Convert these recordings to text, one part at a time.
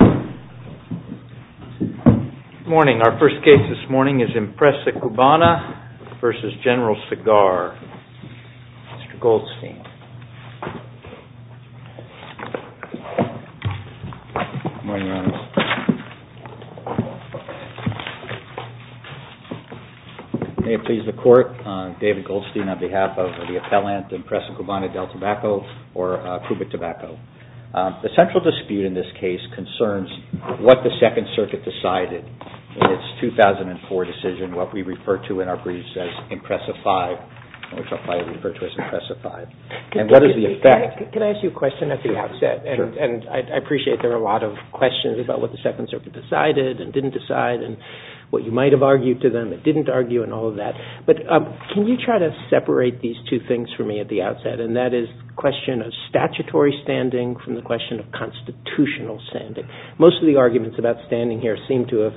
Good morning. Our first case this morning is Empresa Cubana v. General Cigar, Mr. Goldstein. May it please the Court, David Goldstein on behalf of the appellant, Empresa Cubana del Tabaco, or Cuba Tobacco. The central dispute in this case concerns what the Second Circuit decided in its 2004 decision, what we refer to in our briefs as Empresa V, which I'll probably refer to as Empresa V, and what is the effect. Can I ask you a question at the outset? Sure. And I appreciate there are a lot of questions about what the Second Circuit decided and didn't decide and what you might have argued to them, didn't argue, and all of that. But can you try to separate these two things for me at the outset, and that is the question of statutory standing from the question of constitutional standing? Most of the arguments about standing here seem to have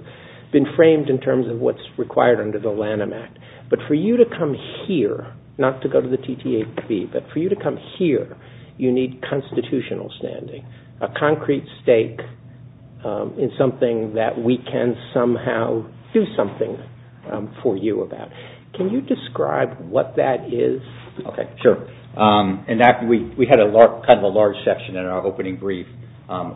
been framed in terms of what's required under the Lanham Act, but for you to come here, not to go to the TTAP, but for you to come here, you need constitutional standing, a concrete stake in something that we can somehow do something for you about. Can you describe what that is? Okay, sure. We had kind of a large section in our opening brief,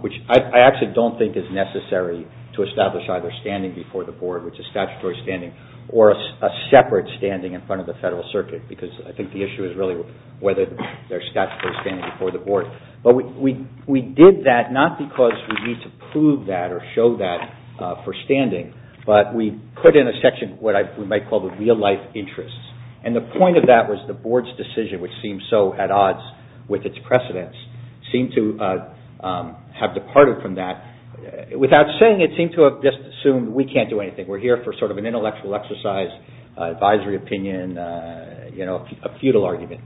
which I actually don't think is necessary to establish either standing before the Board, which is statutory standing, or a separate standing in front of the Federal Circuit, because I think the issue is really whether there's statutory standing before the Board. But we did that not because we need to prove that or show that for standing, but we put in a section what we might call the real-life interests. And the point of that was the Board's decision, which seems so at odds with its precedents, seemed to have departed from that. Without saying, it seemed to have just assumed we can't do anything. We're here for sort of an intellectual exercise, advisory opinion, you know, a futile argument.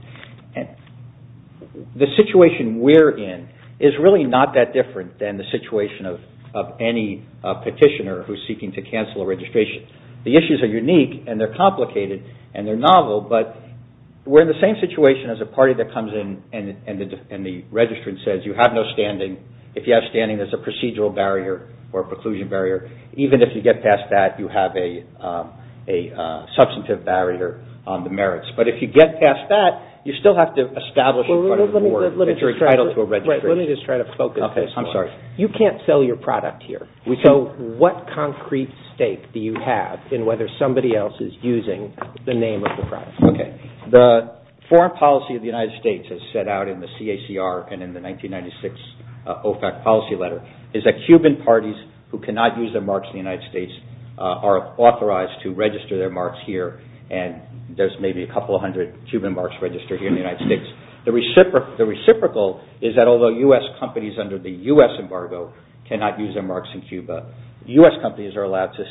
The situation we're in is really not that different than the situation of any petitioner who's seeking to cancel a registration. The issues are unique, and they're complicated, and they're novel, but we're in the same situation as a party that comes in and the registrant says, if you have no standing, if you have standing, there's a procedural barrier or a preclusion barrier. Even if you get past that, you have a substantive barrier on the merits. But if you get past that, you still have to establish in front of the Board that you're entitled to a registration. Let me just try to focus. I'm sorry. You can't sell your product here. So what concrete stake do you have in whether somebody else is using the name of the product? The foreign policy of the United States, as set out in the CACR and in the 1996 OFAC policy letter, is that Cuban parties who cannot use their marks in the United States are authorized to register their marks here, and there's maybe a couple hundred Cuban marks registered here in the United States. The reciprocal is that although U.S. companies under the U.S. embargo cannot use their marks in Cuba, U.S. companies are allowed to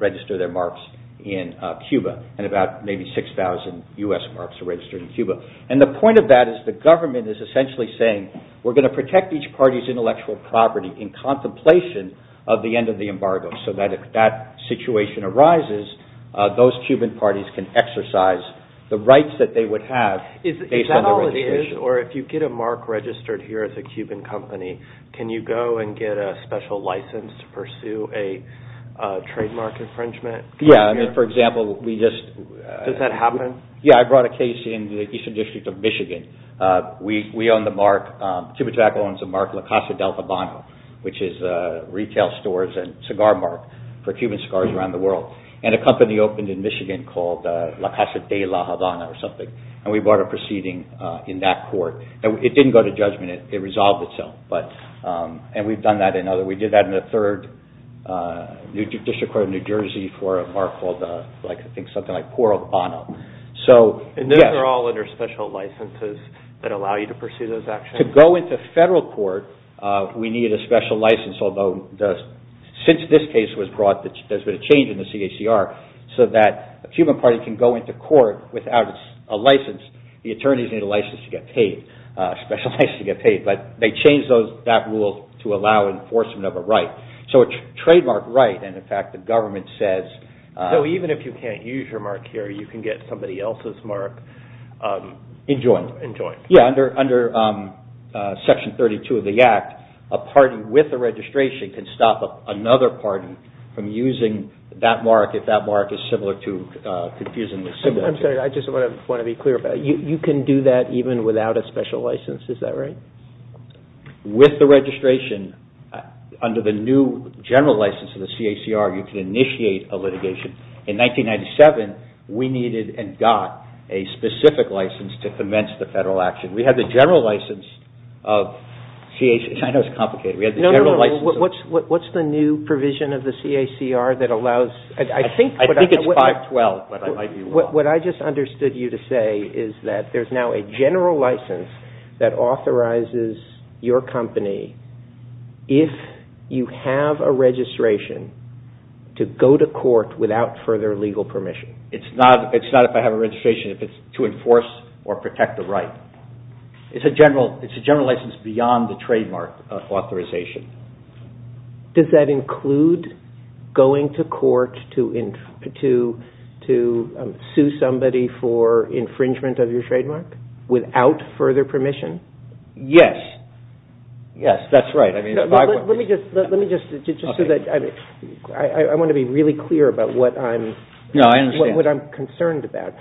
register their marks in Cuba, and about maybe 6,000 U.S. marks are registered in Cuba. And the point of that is the government is essentially saying, we're going to protect each party's intellectual property in contemplation of the end of the embargo, so that if that situation arises, those Cuban parties can exercise the rights that they would have based on their registration. Is that all it is? Or if you get a mark registered here as a Cuban company, can you go and get a special license to pursue a trademark infringement? Yeah. I mean, for example, we just – Does that happen? Yeah. I brought a case in the Eastern District of Michigan. We own the mark. Cubatac owns the mark La Casa Del Habano, which is retail stores and cigar mark for Cuban cigars around the world. And a company opened in Michigan called La Casa De La Habana or something, and we brought a proceeding in that court. And it didn't go to judgment. It resolved itself. And we've done that in other – we did that in a third district court in New Jersey for a mark called, I think, something like Por El Habano. And those are all under special licenses that allow you to pursue those actions? To go into federal court, we need a special license, although since this case was brought, there's been a change in the CACR so that a Cuban party can go into court without a license. The attorneys need a license to get paid, a special license to get paid. But they changed that rule to allow enforcement of a right, so a trademark right. And, in fact, the government says – So even if you can't use your mark here, you can get somebody else's mark? In joint. In joint. Yeah, under Section 32 of the Act, a party with a registration can stop another party from using that mark if that mark is similar to – confusingly similar. I'm sorry. I just want to be clear about it. You can do that even without a special license. Is that right? With the registration, under the new general license of the CACR, you can initiate a litigation. In 1997, we needed and got a specific license to commence the federal action. We had the general license of – I know it's complicated. What's the new provision of the CACR that allows – I think it's 512, but I might be wrong. What I just understood you to say is that there's now a general license that authorizes your company, if you have a registration, to go to court without further legal permission. It's not if I have a registration if it's to enforce or protect the right. It's a general license beyond the trademark authorization. Does that include going to court to sue somebody for infringement of your trademark without further permission? Yes. Yes, that's right. Let me just – I want to be really clear about what I'm concerned about.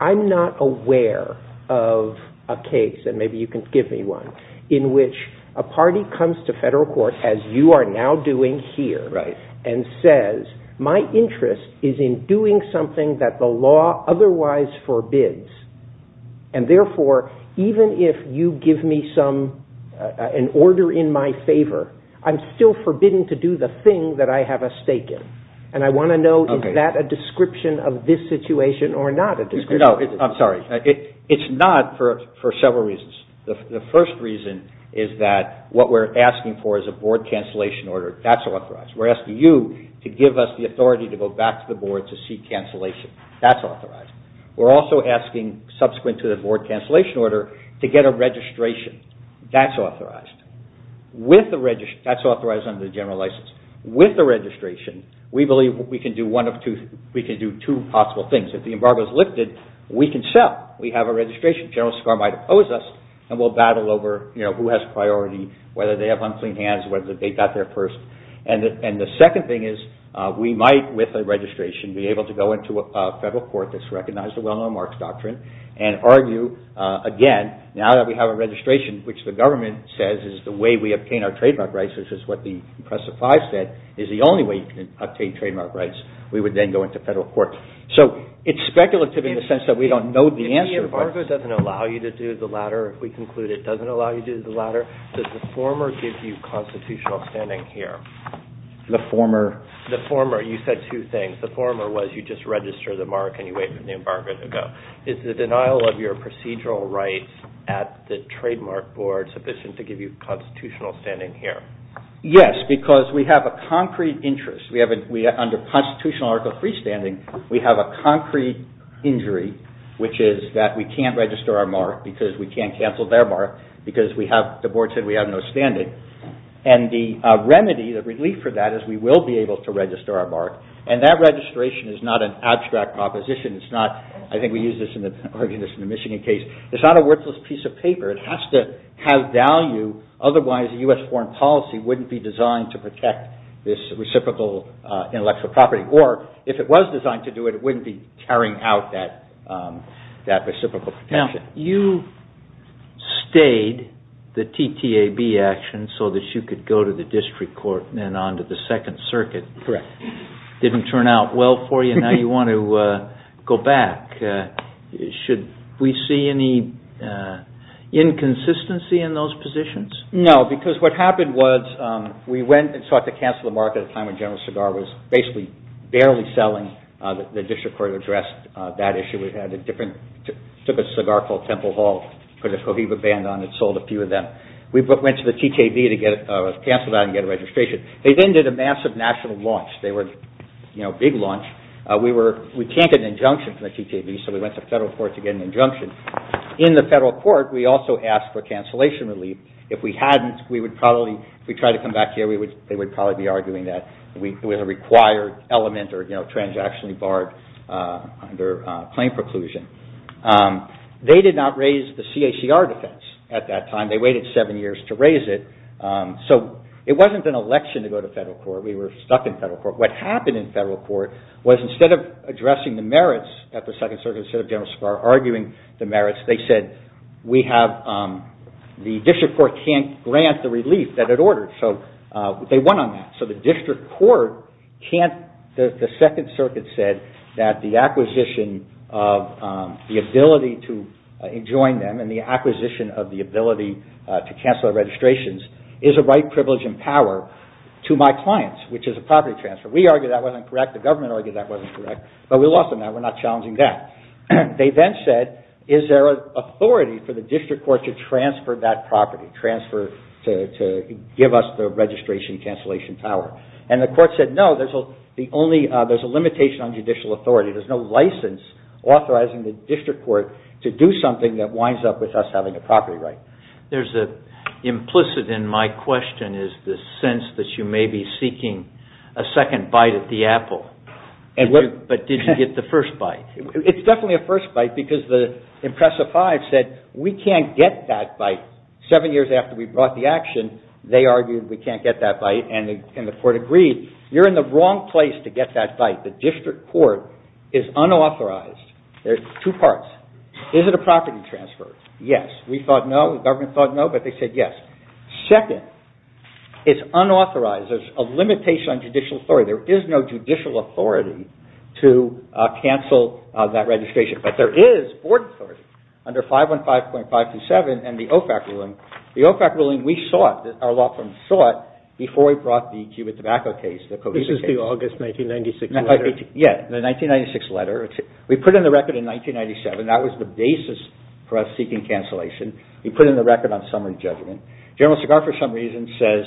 I'm not aware of a case, and maybe you can give me one, in which a party comes to federal court, as you are now doing here, and says, my interest is in doing something that the law otherwise forbids. And therefore, even if you give me an order in my favor, I'm still forbidden to do the thing that I have a stake in. And I want to know, is that a description of this situation or not a description? No, I'm sorry. It's not for several reasons. The first reason is that what we're asking for is a board cancellation order. That's authorized. We're asking you to give us the authority to go back to the board to seek cancellation. That's authorized. We're also asking, subsequent to the board cancellation order, to get a registration. That's authorized. That's authorized under the general license. With the registration, we believe we can do two possible things. If the embargo is lifted, we can sell. We have a registration. General SCAR might oppose us, and we'll battle over who has priority, whether they have unclean hands, whether they got there first. And the second thing is we might, with a registration, be able to go into a federal court that's recognized the Well-Known Marks Doctrine and argue, again, now that we have a registration, which the government says is the way we obtain our trademark rights, which is what the impressive five said, is the only way you can obtain trademark rights. We would then go into federal court. So it's speculative in the sense that we don't know the answer. If the embargo doesn't allow you to do the latter, if we conclude it doesn't allow you to do the latter, does the former give you constitutional standing here? The former? The former. You said two things. The former was you just register the mark and you wait for the embargo to go. Is the denial of your procedural rights at the trademark board sufficient to give you constitutional standing here? Yes, because we have a concrete interest. Under constitutional article 3 standing, we have a concrete injury, which is that we can't register our mark because we can't cancel their mark because the board said we have no standing. And the remedy, the relief for that, is we will be able to register our mark. And that registration is not an abstract proposition. I think we used this in the Michigan case. It's not a worthless piece of paper. It has to have value. Otherwise, a U.S. foreign policy wouldn't be designed to protect this reciprocal intellectual property. Or if it was designed to do it, it wouldn't be carrying out that reciprocal protection. Now, you stayed the TTAB action so that you could go to the district court and on to the Second Circuit. Correct. Didn't turn out well for you. Now you want to go back. Should we see any inconsistency in those positions? No, because what happened was we went and sought to cancel the mark at a time when General Segar was basically barely selling. The district court addressed that issue. We took a cigar called Temple Hall, put a Cohiba band on it, sold a few of them. We went to the TTAB to cancel that and get a registration. They then did a massive national launch. They were a big launch. We can't get an injunction from the TTAB, so we went to federal court to get an injunction. In the federal court, we also asked for cancellation relief. If we hadn't, we would probably, if we tried to come back here, they would probably be arguing that it was a required element or transactionally barred under claim preclusion. They did not raise the CACR defense at that time. They waited seven years to raise it. It wasn't an election to go to federal court. We were stuck in federal court. What happened in federal court was instead of addressing the merits at the Second Circuit, instead of General Segar arguing the merits, they said, the district court can't grant the relief that it ordered. They won on that. The district court, the Second Circuit said that the acquisition of the ability to join them and the acquisition of the ability to cancel registrations is a right, privilege, and power to my clients, which is a property transfer. We argued that wasn't correct. The government argued that wasn't correct, but we lost on that. We're not challenging that. They then said, is there an authority for the district court to transfer that property, to give us the registration cancellation power? The court said, no. There's a limitation on judicial authority. There's no license authorizing the district court to do something that winds up with us having a property right. There's an implicit in my question is the sense that you may be seeking a second bite at the apple, but did you get the first bite? It's definitely a first bite because the IMPRESA 5 said, we can't get that bite seven years after we brought the action. They argued we can't get that bite, and the court agreed. You're in the wrong place to get that bite. The district court is unauthorized. There's two parts. Is it a property transfer? Yes. We thought no. The government thought no, but they said yes. Second, it's unauthorized. There's a limitation on judicial authority. There is no judicial authority to cancel that registration, but there is board authority. Under 515.527 and the OFAC ruling, the OFAC ruling we sought, our law firm sought, before we brought the Cuban tobacco case, the cohesive case. This is the August 1996 letter. Yes, the 1996 letter. We put in the record in 1997. That was the basis for us seeking cancellation. We put in the record on summary judgment. General Segar, for some reason, says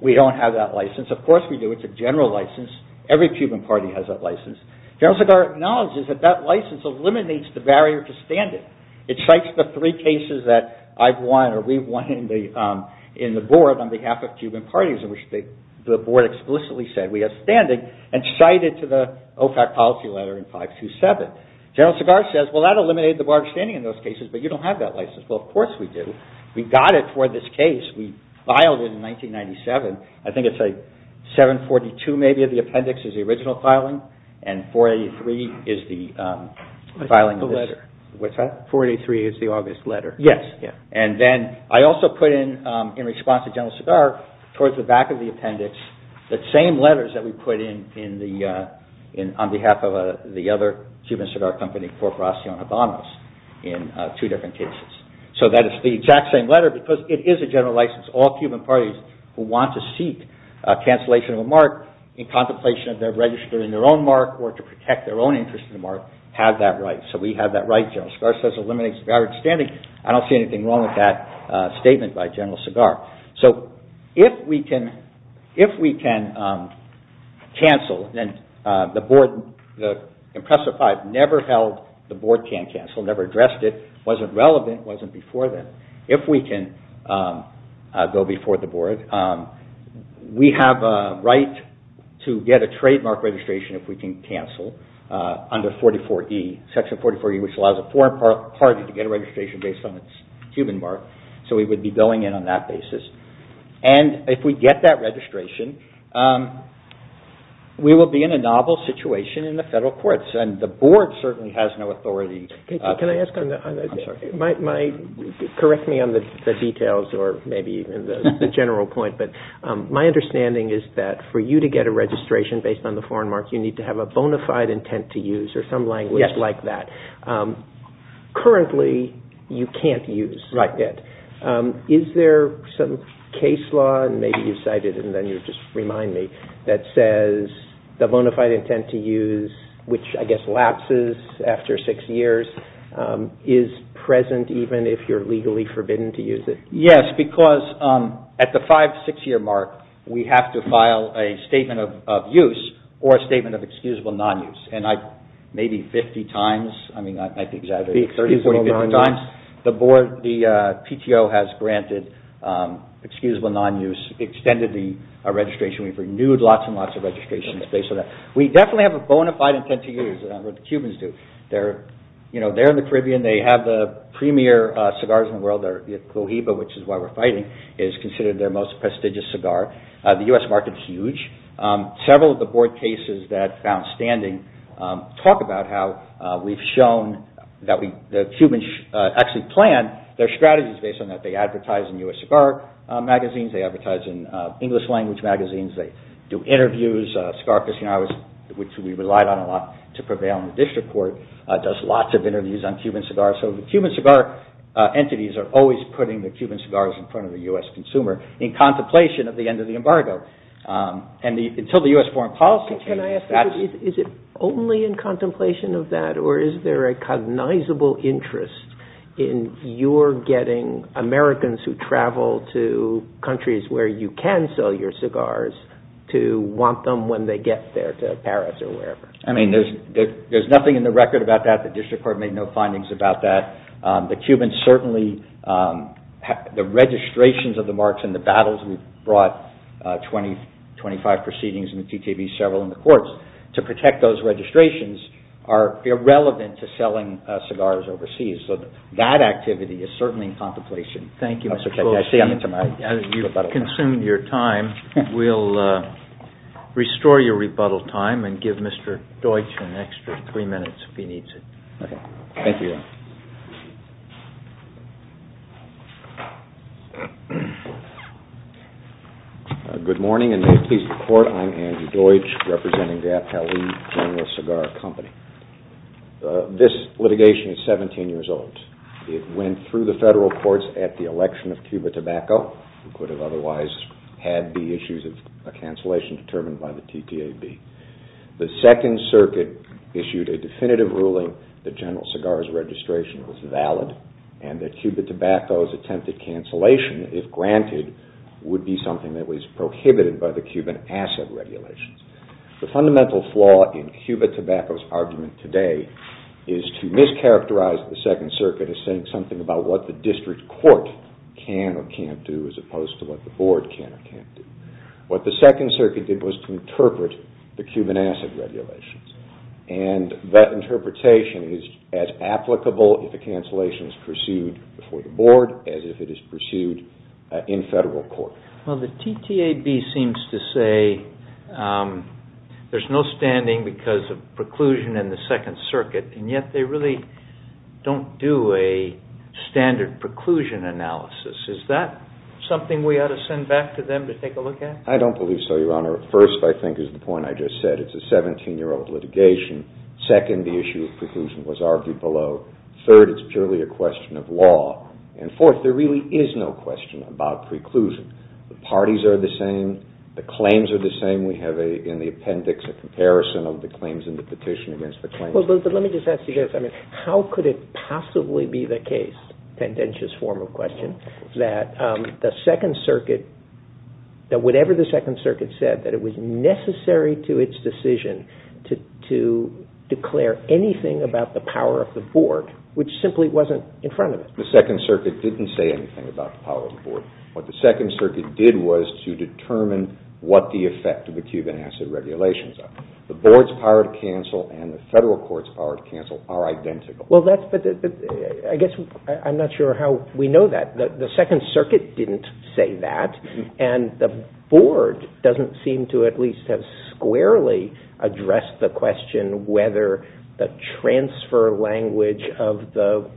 we don't have that license. It's a general license. Every Cuban party has that license. General Segar acknowledges that that license eliminates the barrier to standing. It cites the three cases that I've won or we've won in the board on behalf of Cuban parties in which the board explicitly said we have standing and cited to the OFAC policy letter in 527. General Segar says, well, that eliminated the bar of standing in those cases, but you don't have that license. Well, of course we do. We got it for this case. We filed it in 1997. I think it's like 742 maybe of the appendix is the original filing and 483 is the filing. The letter. What's that? 483 is the August letter. Yes. Then I also put in, in response to General Segar, towards the back of the appendix, the same letters that we put in on behalf of the other Cuban cigar company, Corporacion Habanos, in two different cases. That is the exact same letter because it is a general license. All Cuban parties who want to seek cancellation of a mark in contemplation of their register in their own mark or to protect their own interest in the mark have that right. We have that right. General Segar says, eliminates the bar of standing. I don't see anything wrong with that statement by General Segar. If we can cancel, then the board in Presser 5 never held the board can cancel, never addressed it. It wasn't relevant. It wasn't before then. If we can go before the board, we have a right to get a trademark registration if we can cancel under section 44E, which allows a foreign party to get a registration based on its Cuban mark. We would be going in on that basis. If we get that registration, we will be in a novel situation in the federal courts. The board certainly has no authority. Correct me on the details or maybe the general point, but my understanding is that for you to get a registration based on the foreign mark, you need to have a bona fide intent to use or some language like that. Currently, you can't use it. Is there some case law, and maybe you cited it and then you just remind me, that says the bona fide intent to use, which I guess lapses after six years, is present even if you're legally forbidden to use it? Yes, because at the five, six-year mark, we have to file a statement of use or a statement of excusable non-use. Maybe 50 times. The PTO has granted excusable non-use, extended the registration. We've renewed lots and lots of registrations based on that. We definitely have a bona fide intent to use, or the Cubans do. They're in the Caribbean. They have the premier cigars in the world. The Clojiba, which is why we're fighting, is considered their most prestigious cigar. The U.S. market is huge. Several of the board cases that found standing talk about how we've shown that the Cubans actually plan their strategies based on that. They advertise in U.S. cigar magazines. They advertise in English-language magazines. They do interviews. Cigar Casino, which we relied on a lot to prevail in the district court, does lots of interviews on Cuban cigars. So the Cuban cigar entities are always putting the Cuban cigars in front of the U.S. consumer in contemplation of the end of the embargo. Until the U.S. foreign policy changes, that's— Can I ask you, is it only in contemplation of that, or is there a cognizable interest in your getting Americans who travel to countries where you can sell your cigars to want them when they get there to Paris or wherever? I mean, there's nothing in the record about that. The district court made no findings about that. The Cubans certainly—the registrations of the marks and the battles— we brought 25 proceedings in the TTV, several in the courts— to protect those registrations are irrelevant to selling cigars overseas. So that activity is certainly in contemplation. Thank you, Mr. Pelosi. As you've consumed your time, we'll restore your rebuttal time and give Mr. Deutsch an extra three minutes if he needs it. Thank you. Good morning, and may it please the Court, I'm Andy Deutsch, representing the Appellee General Cigar Company. This litigation is 17 years old. It went through the federal courts at the election of Cuba Tobacco, who could have otherwise had the issues of a cancellation determined by the TTAB. The Second Circuit issued a definitive ruling that General Cigar's registration was valid and that Cuba Tobacco's attempted cancellation, if granted, would be something that was prohibited by the Cuban Asset Regulations. The fundamental flaw in Cuba Tobacco's argument today is to mischaracterize the Second Circuit as saying something about what the district court can or can't do as opposed to what the board can or can't do. What the Second Circuit did was to interpret the Cuban Asset Regulations, and that interpretation is as applicable if a cancellation is pursued before the board as if it is pursued in federal court. Well, the TTAB seems to say there's no standing because of preclusion in the Second Circuit, and yet they really don't do a standard preclusion analysis. Is that something we ought to send back to them to take a look at? I don't believe so, Your Honor. First, I think, is the point I just said. It's a 17-year-old litigation. Second, the issue of preclusion was argued below. Third, it's purely a question of law. And fourth, there really is no question about preclusion. The parties are the same. The claims are the same. We have in the appendix a comparison of the claims and the petition against the claims. Well, let me just ask you this. How could it possibly be the case, a tendentious form of question, that the Second Circuit, that whatever the Second Circuit said, that it was necessary to its decision to declare anything about the power of the board, which simply wasn't in front of it? The Second Circuit didn't say anything about the power of the board. What the Second Circuit did was to determine what the effect of the Cuban Asset Regulations are. The board's power to cancel and the federal court's power to cancel are identical. Well, I guess I'm not sure how we know that. The Second Circuit didn't say that, and the board doesn't seem to at least have squarely addressed the question whether the transfer language of the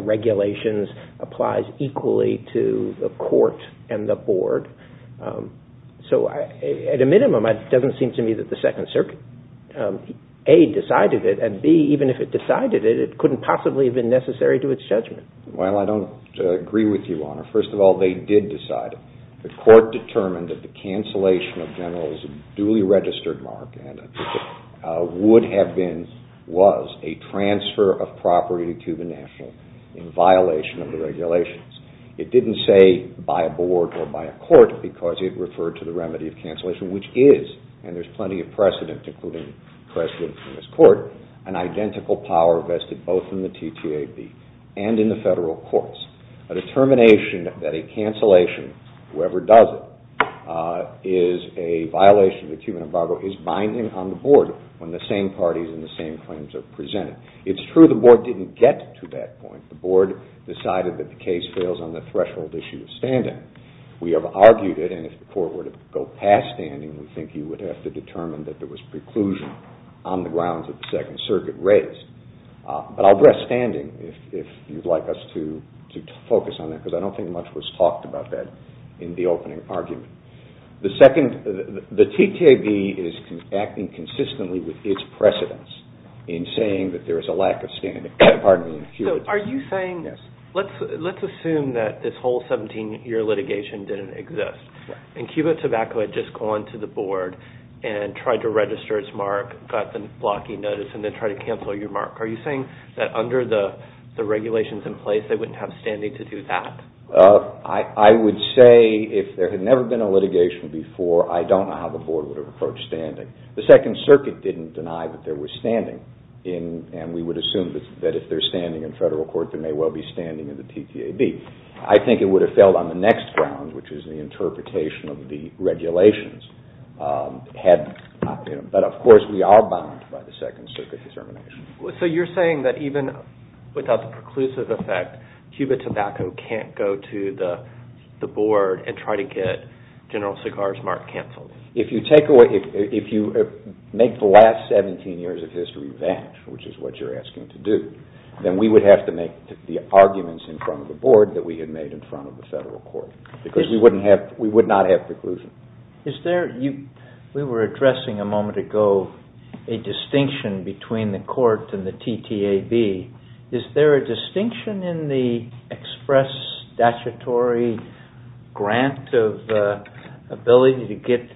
regulations applies equally to the court and the board. So at a minimum, it doesn't seem to me that the Second Circuit, A, decided it, and, B, even if it decided it, it couldn't possibly have been necessary to its judgment. Well, I don't agree with you, Your Honor. First of all, they did decide it. The court determined that the cancellation of general is a duly registered mark would have been was a transfer of property to the national in violation of the regulations. It didn't say by a board or by a court because it referred to the remedy of cancellation, which is, and there's plenty of precedent, including precedent from this court, an identical power vested both in the TTAB and in the federal courts. A determination that a cancellation, whoever does it, is a violation of the human embargo is binding on the board when the same parties and the same claims are presented. It's true the board didn't get to that point. The board decided that the case fails on the threshold issue of standing. We have argued it, and if the court were to go past standing, we think you would have to determine that there was preclusion on the grounds that the Second Circuit raised. But I'll address standing if you'd like us to focus on that because I don't think much was talked about that in the opening argument. The TTAB is acting consistently with its precedence in saying that there is a lack of standing. Let's assume that this whole 17-year litigation didn't exist, and Cuba Tobacco had just gone to the board and tried to register its mark, got the blocky notice, and then tried to cancel your mark. Are you saying that under the regulations in place, they wouldn't have standing to do that? I would say if there had never been a litigation before, I don't know how the board would have approached standing. The Second Circuit didn't deny that there was standing, and we would assume that if there's standing in federal court, there may well be standing in the TTAB. I think it would have failed on the next ground, which is the interpretation of the regulations. But of course, we are bound by the Second Circuit's determination. So you're saying that even without the preclusive effect, Cuba Tobacco can't go to the board and try to get General Segar's mark canceled? If you make the last 17 years of history vanish, which is what you're asking to do, then we would have to make the arguments in front of the board that we had made in front of the federal court because we would not have preclusion. We were addressing a moment ago a distinction between the court and the TTAB. Is there a distinction in the express statutory grant of ability to get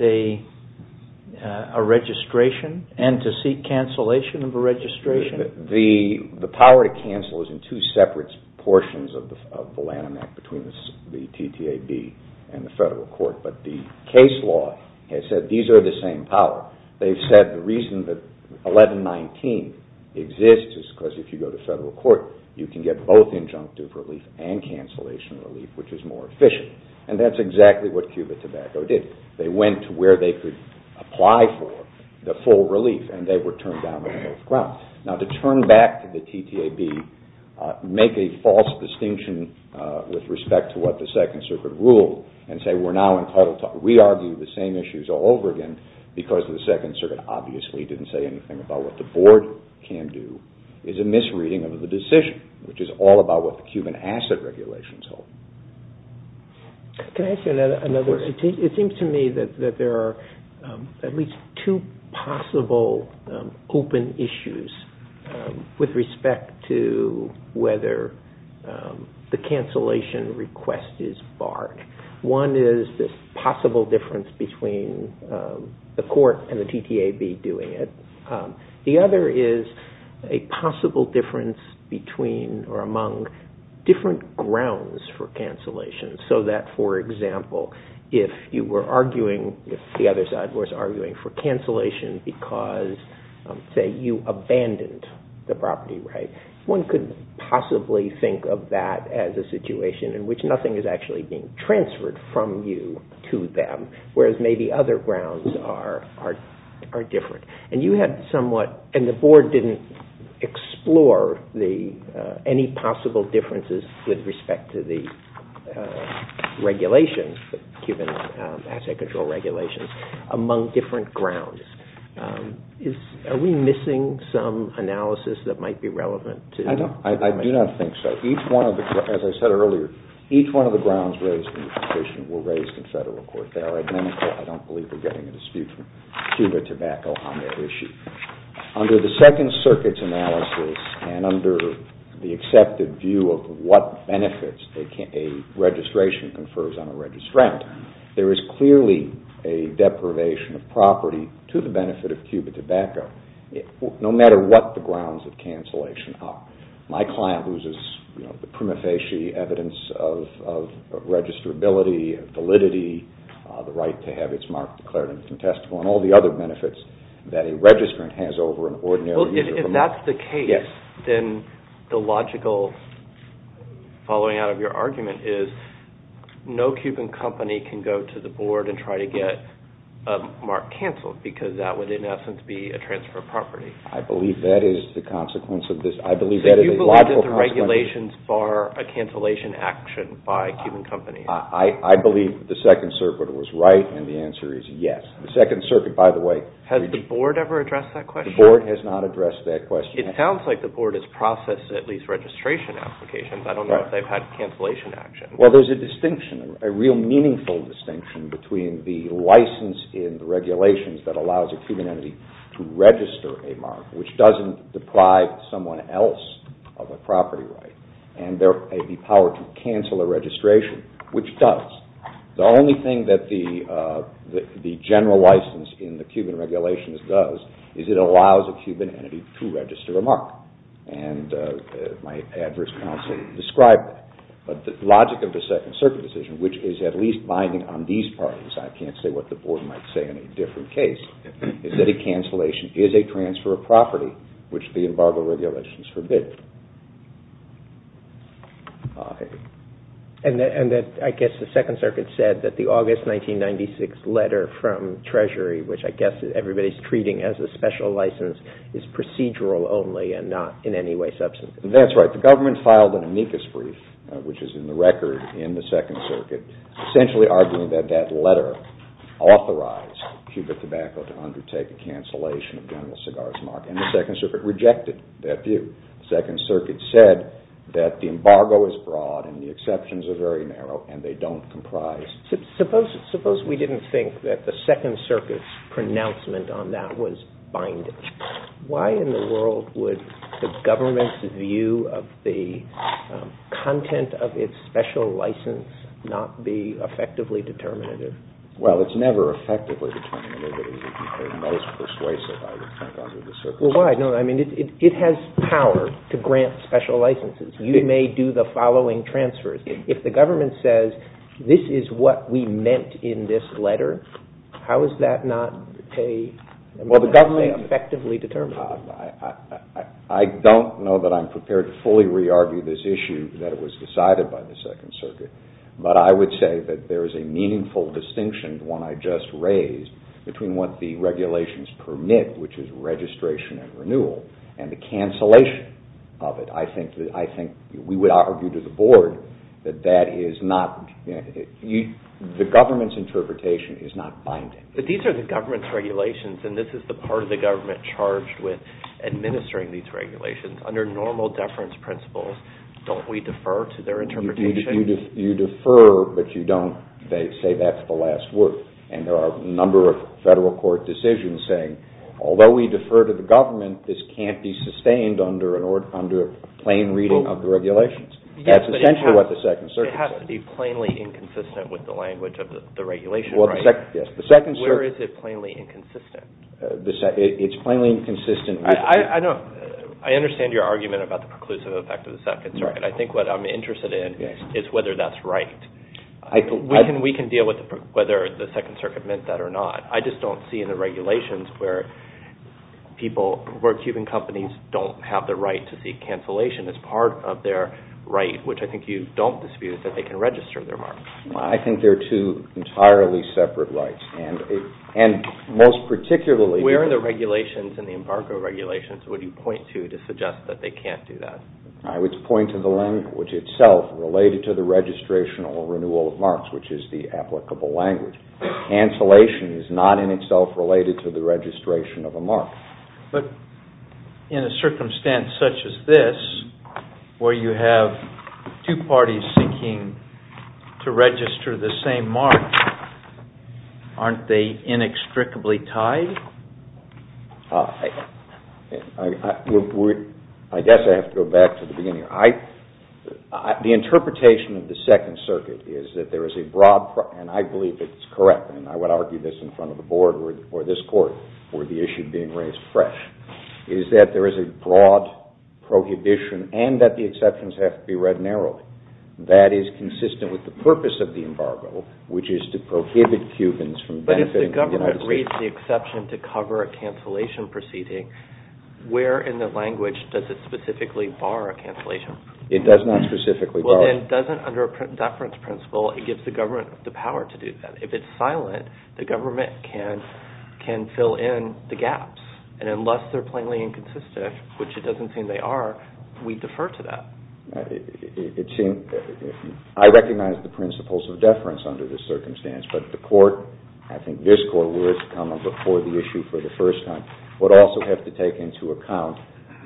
a registration and to seek cancellation of a registration? The power to cancel is in two separate portions of the Lanham Act between the TTAB and the federal court. But the case law has said these are the same power. They've said the reason that 1119 exists is because if you go to federal court, you can get both injunctive relief and cancellation relief, which is more efficient. And that's exactly what Cuba Tobacco did. They went to where they could apply for the full relief, and they were turned down on both grounds. Now to turn back to the TTAB, make a false distinction with respect to what the Second Circuit ruled, and say we're now in total talk. We argue the same issues all over again because the Second Circuit obviously didn't say anything about what the board can do. It's a misreading of the decision, which is all about what the Cuban Asset Regulations hold. Can I ask you another question? It seems to me that there are at least two possible open issues with respect to whether the cancellation request is barred. One is this possible difference between the court and the TTAB doing it. The other is a possible difference between or among different grounds for cancellation so that, for example, if you were arguing, if the other side was arguing for cancellation because, say, you abandoned the property right, one could possibly think of that as a situation in which nothing is actually being transferred from you to them, whereas maybe other grounds are different. And you had somewhat, and the board didn't explore any possible differences with respect to the regulations, Cuban Asset Control regulations, among different grounds. Are we missing some analysis that might be relevant? I do not think so. As I said earlier, each one of the grounds raised in the petition were raised in federal court. They are identical. I don't believe we're getting a dispute from Cuba Tobacco on that issue. Under the Second Circuit's analysis and under the accepted view of what benefits a registration confers on a registrant, there is clearly a deprivation of property to the benefit of Cuba Tobacco no matter what the grounds of cancellation are. My client loses the prima facie evidence of registrability, validity, the right to have its mark declared and contestable, and all the other benefits that a registrant has over an ordinary user. If that's the case, then the logical following out of your argument is no Cuban company can go to the board and try to get a mark canceled because that would, in essence, be a transfer of property. I believe that is the logical consequence of this. So you believe that the regulations bar a cancellation action by Cuban companies? I believe that the Second Circuit was right, and the answer is yes. The Second Circuit, by the way, Has the board ever addressed that question? The board has not addressed that question. It sounds like the board has processed at least registration applications. I don't know if they've had cancellation actions. Well, there's a distinction, a real meaningful distinction between the license in the regulations that allows a Cuban entity to register a mark, which doesn't deprive someone else of a property right, and the power to cancel a registration, which does. The only thing that the general license in the Cuban regulations does is it allows a Cuban entity to register a mark, and my adverse counsel described that. But the logic of the Second Circuit decision, which is at least binding on these parties, I can't say what the board might say in a different case, is that a cancellation is a transfer of property, which the embargo regulations forbid. And I guess the Second Circuit said that the August 1996 letter from Treasury, which I guess everybody's treating as a special license, is procedural only and not in any way substantive. That's right. But the government filed an amicus brief, which is in the record in the Second Circuit, essentially arguing that that letter authorized Cuba Tobacco to undertake a cancellation of General Segarra's mark, and the Second Circuit rejected that view. The Second Circuit said that the embargo is broad and the exceptions are very narrow and they don't comprise. Suppose we didn't think that the Second Circuit's pronouncement on that was binding. Why in the world would the government's view of the content of its special license not be effectively determinative? Well, it's never effectively determinative. It would be the most persuasive, I would think, out of the Circuit. Well, why? I mean, it has power to grant special licenses. You may do the following transfers. If the government says, this is what we meant in this letter, how is that not a... Well, the government... Effectively determinative. I don't know that I'm prepared to fully re-argue this issue that it was decided by the Second Circuit, but I would say that there is a meaningful distinction, the one I just raised, between what the regulations permit, which is registration and renewal, and the cancellation of it. I think we would argue to the board that that is not... The government's interpretation is not binding. But these are the government's regulations, and this is the part of the government charged with administering these regulations. Under normal deference principles, don't we defer to their interpretation? You defer, but you don't say that's the last word. And there are a number of federal court decisions saying, although we defer to the government, this can't be sustained under a plain reading of the regulations. That's essentially what the Second Circuit said. It has to be plainly inconsistent with the language of the regulation, right? Yes, the Second Circuit... Where is it plainly inconsistent? It's plainly inconsistent... I know. I understand your argument about the preclusive effect of the Second Circuit. I think what I'm interested in is whether that's right. We can deal with whether the Second Circuit meant that or not. I just don't see in the regulations where people, where Cuban companies don't have the right to seek cancellation as part of their right, which I think you don't dispute, that they can register their mark. I think they're two entirely separate rights, and most particularly... Where in the regulations, in the embargo regulations, would you point to to suggest that they can't do that? I would point to the language itself related to the registration or renewal of marks, which is the applicable language. Cancellation is not in itself related to the registration of a mark. But in a circumstance such as this, where you have two parties seeking to register the same mark, aren't they inextricably tied? I guess I have to go back to the beginning. The interpretation of the Second Circuit is that there is a broad... and I believe it's correct, and I would argue this in front of the board or this court, for the issue being raised fresh, is that there is a broad prohibition and that the exceptions have to be read narrowly. That is consistent with the purpose of the embargo, which is to prohibit Cubans from benefiting from the United States... But if the government raised the exception to cover a cancellation proceeding, where in the language does it specifically bar a cancellation? It does not specifically bar... Well, then, doesn't under a preference principle, it gives the government the power to do that. If it's silent, the government can fill in the gaps. And unless they're plainly inconsistent, which it doesn't seem they are, we defer to that. I recognize the principles of deference under this circumstance, but the court, I think this court, where it's come before the issue for the first time, would also have to take into account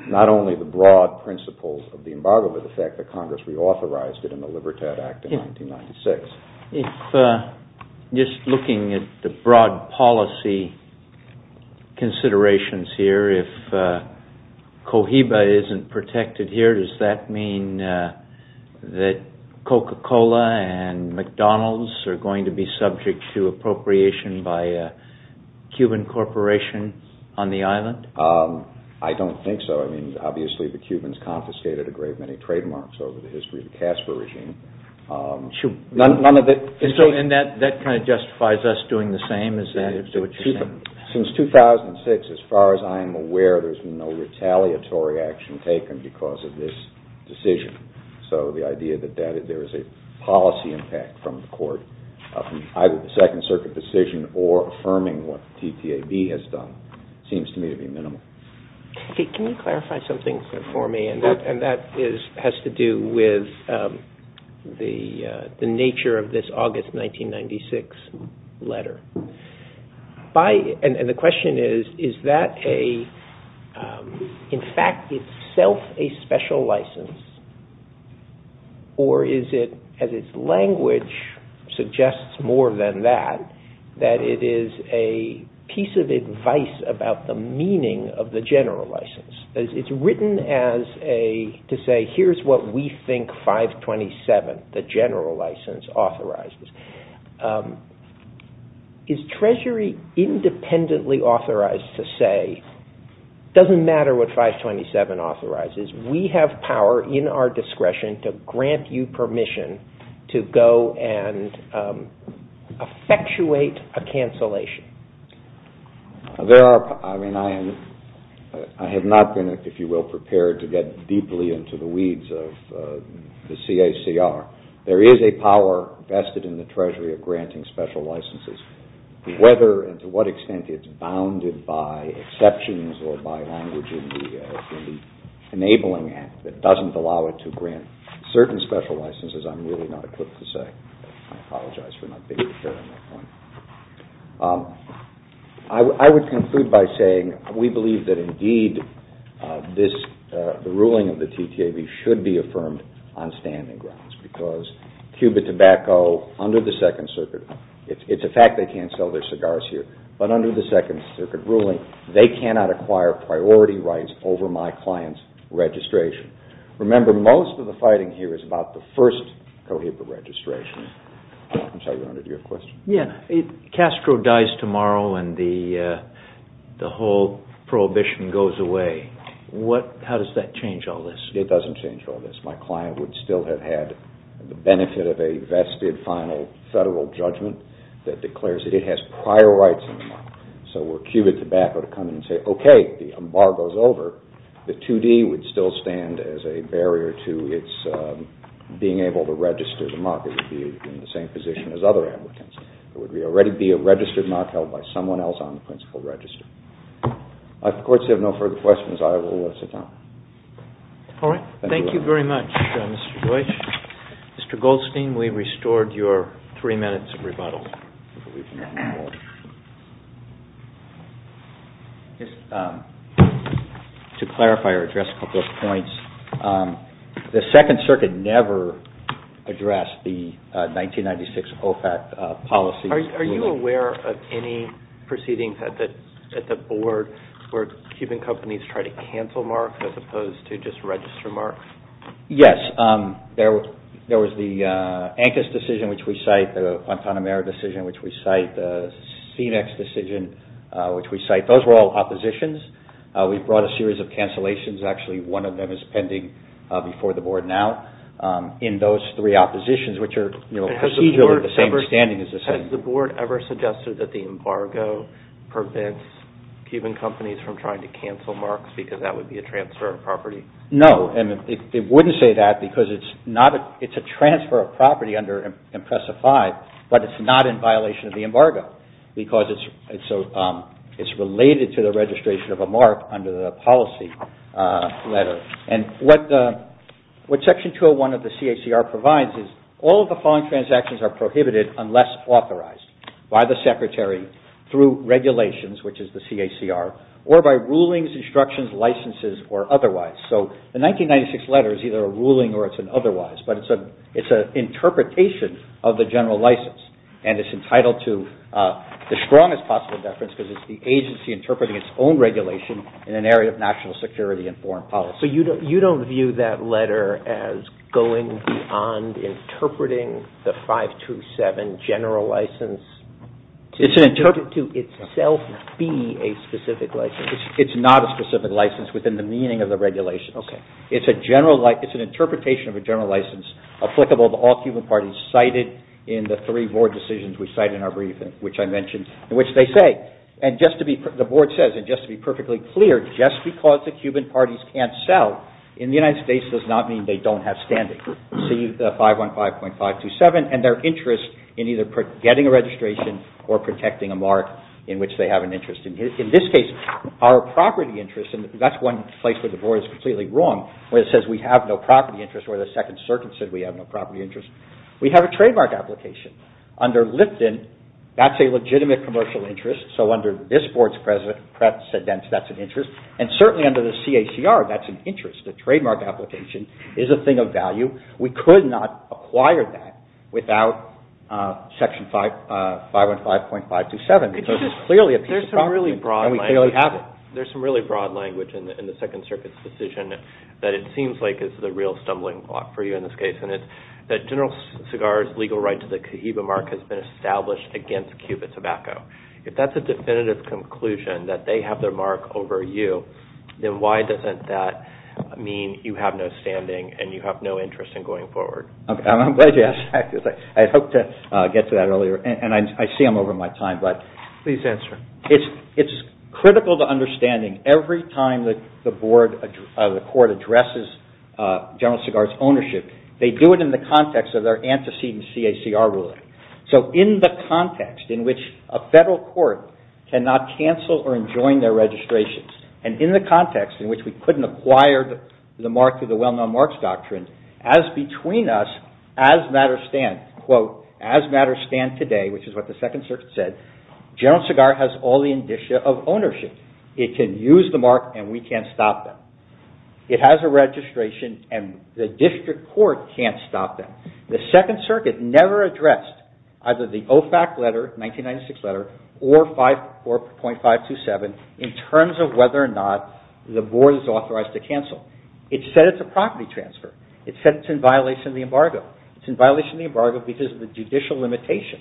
not only the broad principles of the embargo, but the fact that Congress reauthorized it in the Libertad Act of 1996. Just looking at the broad policy considerations here, if Cohiba isn't protected here, does that mean that Coca-Cola and McDonald's are going to be subject to appropriation by a Cuban corporation on the island? I don't think so. I mean, obviously, the Cubans confiscated a great many trademarks over the history of the Casper regime. And that kind of justifies us doing the same? Is that what you're saying? Since 2006, as far as I'm aware, there's been no retaliatory action taken because of this decision. So the idea that there is a policy impact from the court, either the Second Circuit decision or affirming what TTAB has done, seems to me to be minimal. Can you clarify something for me? And that has to do with the nature of this August 1996 letter. And the question is, is that in fact itself a special license? Or is it, as its language suggests more than that, that it is a piece of advice about the meaning of the general license? It's written to say, here's what we think 527, the general license, authorizes. Is Treasury independently authorized to say, it doesn't matter what 527 authorizes, we have power in our discretion to grant you permission to go and effectuate a cancellation? I have not been, if you will, prepared to get deeply into the weeds of the CACR. There is a power vested in the Treasury of granting special licenses. Whether and to what extent it's bounded by exceptions or by language in the Enabling Act that doesn't allow it to grant certain special licenses, I'm really not equipped to say. I apologize for not being prepared on that point. I would conclude by saying we believe that indeed the ruling of the TTAB should be affirmed on standing grounds because Cuba Tobacco, under the Second Circuit, it's a fact they can't sell their cigars here, but under the Second Circuit ruling, they cannot acquire priority rights over my client's registration. Remember, most of the fighting here is about the first COHIPA registration. I'm sorry, Your Honor, do you have a question? Castro dies tomorrow and the whole prohibition goes away. How does that change all this? It doesn't change all this. My client would still have had the benefit of a vested, final federal judgment that declares it has prior rights. So were Cuba Tobacco to come in and say, okay, the embargo is over, the 2D would still stand as a barrier to its being able to register as a mocker to be in the same position as other applicants. There would already be a registered mock held by someone else on the principal register. If the courts have no further questions, I will let it sit down. All right. Thank you very much, Mr. Deutsch. Mr. Goldstein, we restored your three minutes of rebuttal. To clarify or address a couple of points, the Second Circuit never addressed the 1996 OFAC policy. Are you aware of any proceedings at the board where Cuban companies try to cancel marks as opposed to just register marks? Yes. There was the Ancus decision, which we cite, the Guantanamera decision, which we cite, the Senex decision, which we cite. Those were all oppositions. We brought a series of cancellations. Actually, one of them is pending before the board now. In those three oppositions, which are procedurally the same, standing is the same. Has the board ever suggested that the embargo prevents Cuban companies from trying to cancel marks because that would be a transfer of property? No. It wouldn't say that because it's a transfer of property under IMPRESA 5, but it's not in violation of the embargo because it's related to the registration of a mark under the policy letter. What Section 201 of the CACR provides is all of the following transactions are prohibited unless authorized by the Secretary through regulations, which is the CACR, or by rulings, instructions, licenses, or otherwise. The 1996 letter is either a ruling or it's an otherwise, but it's an interpretation of the general license. It's entitled to the strongest possible deference because it's the agency interpreting its own regulation in an area of national security and foreign policy. You don't view that letter as going beyond interpreting the 527 general license to itself be a specific license? It's not a specific license within the meaning of the regulations. It's an interpretation of a general license applicable to all Cuban parties cited in the three board decisions we cite in our briefing, which I mentioned, in which they say, and just to be, the board says, and just to be perfectly clear, just because the Cuban parties can't sell in the United States does not mean they don't have standing. See 515.527 and their interest in either getting a registration or protecting a mark in which they have an interest. In this case, our property interest, and that's one place where the board is completely wrong, where it says we have no property interest or the Second Circuit said we have no property interest. We have a trademark application. Under Lipton, that's a legitimate commercial interest, so under this board's precedent, that's an interest, and certainly under the CACR, that's an interest. The trademark application is a thing of value. We could not acquire that without Section 515.527 because it's clearly a piece of property and we clearly have it. There's some really broad language in the Second Circuit's decision that it seems like is the real stumbling block for you in this case, and it's that General Segar's legal right to the Cohiba mark has been established against Cupid Tobacco. If that's a definitive conclusion that they have their mark over you, then why doesn't that mean you have no standing and you have no interest in going forward? I'm glad you asked that because I had hoped to get to that earlier, and I see I'm over my time, but it's critical to understanding every time the court addresses General Segar's ownership, they do it in the context of their antecedent CACR ruling. So in the context in which a federal court cannot cancel or enjoin their registrations, and in the context in which we couldn't acquire the mark through the Well-Known Marks Doctrine, as between us, as matters stand, quote, as matters stand today, which is what the Second Circuit said, General Segar has all the indicia of ownership. It can use the mark, and we can't stop them. It has a registration, and the district court can't stop them. The Second Circuit never addressed either the OFAC letter, 1996 letter, or 5.527, in terms of whether or not the board is authorized to cancel. It said it's a property transfer. It said it's in violation of the embargo. It's in violation of the embargo because of the judicial limitation.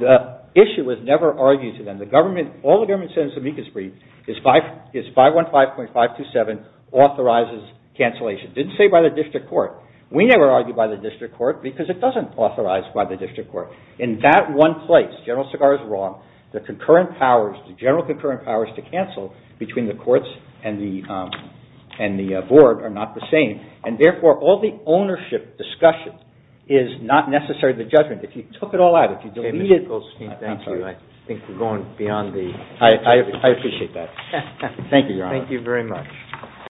The issue was never argued to them. All the government said in Zemeckis brief is 515.527 authorizes cancellation. It didn't say by the district court. We never argued by the district court because it doesn't authorize by the district court. In that one place, General Segar is wrong. The general concurrent powers to cancel between the courts and the board are not the same, and therefore all the ownership discussion is not necessary to the judgment. If you took it all out, if you deleted it... I appreciate that. Thank you, Your Honor. Thank you very much.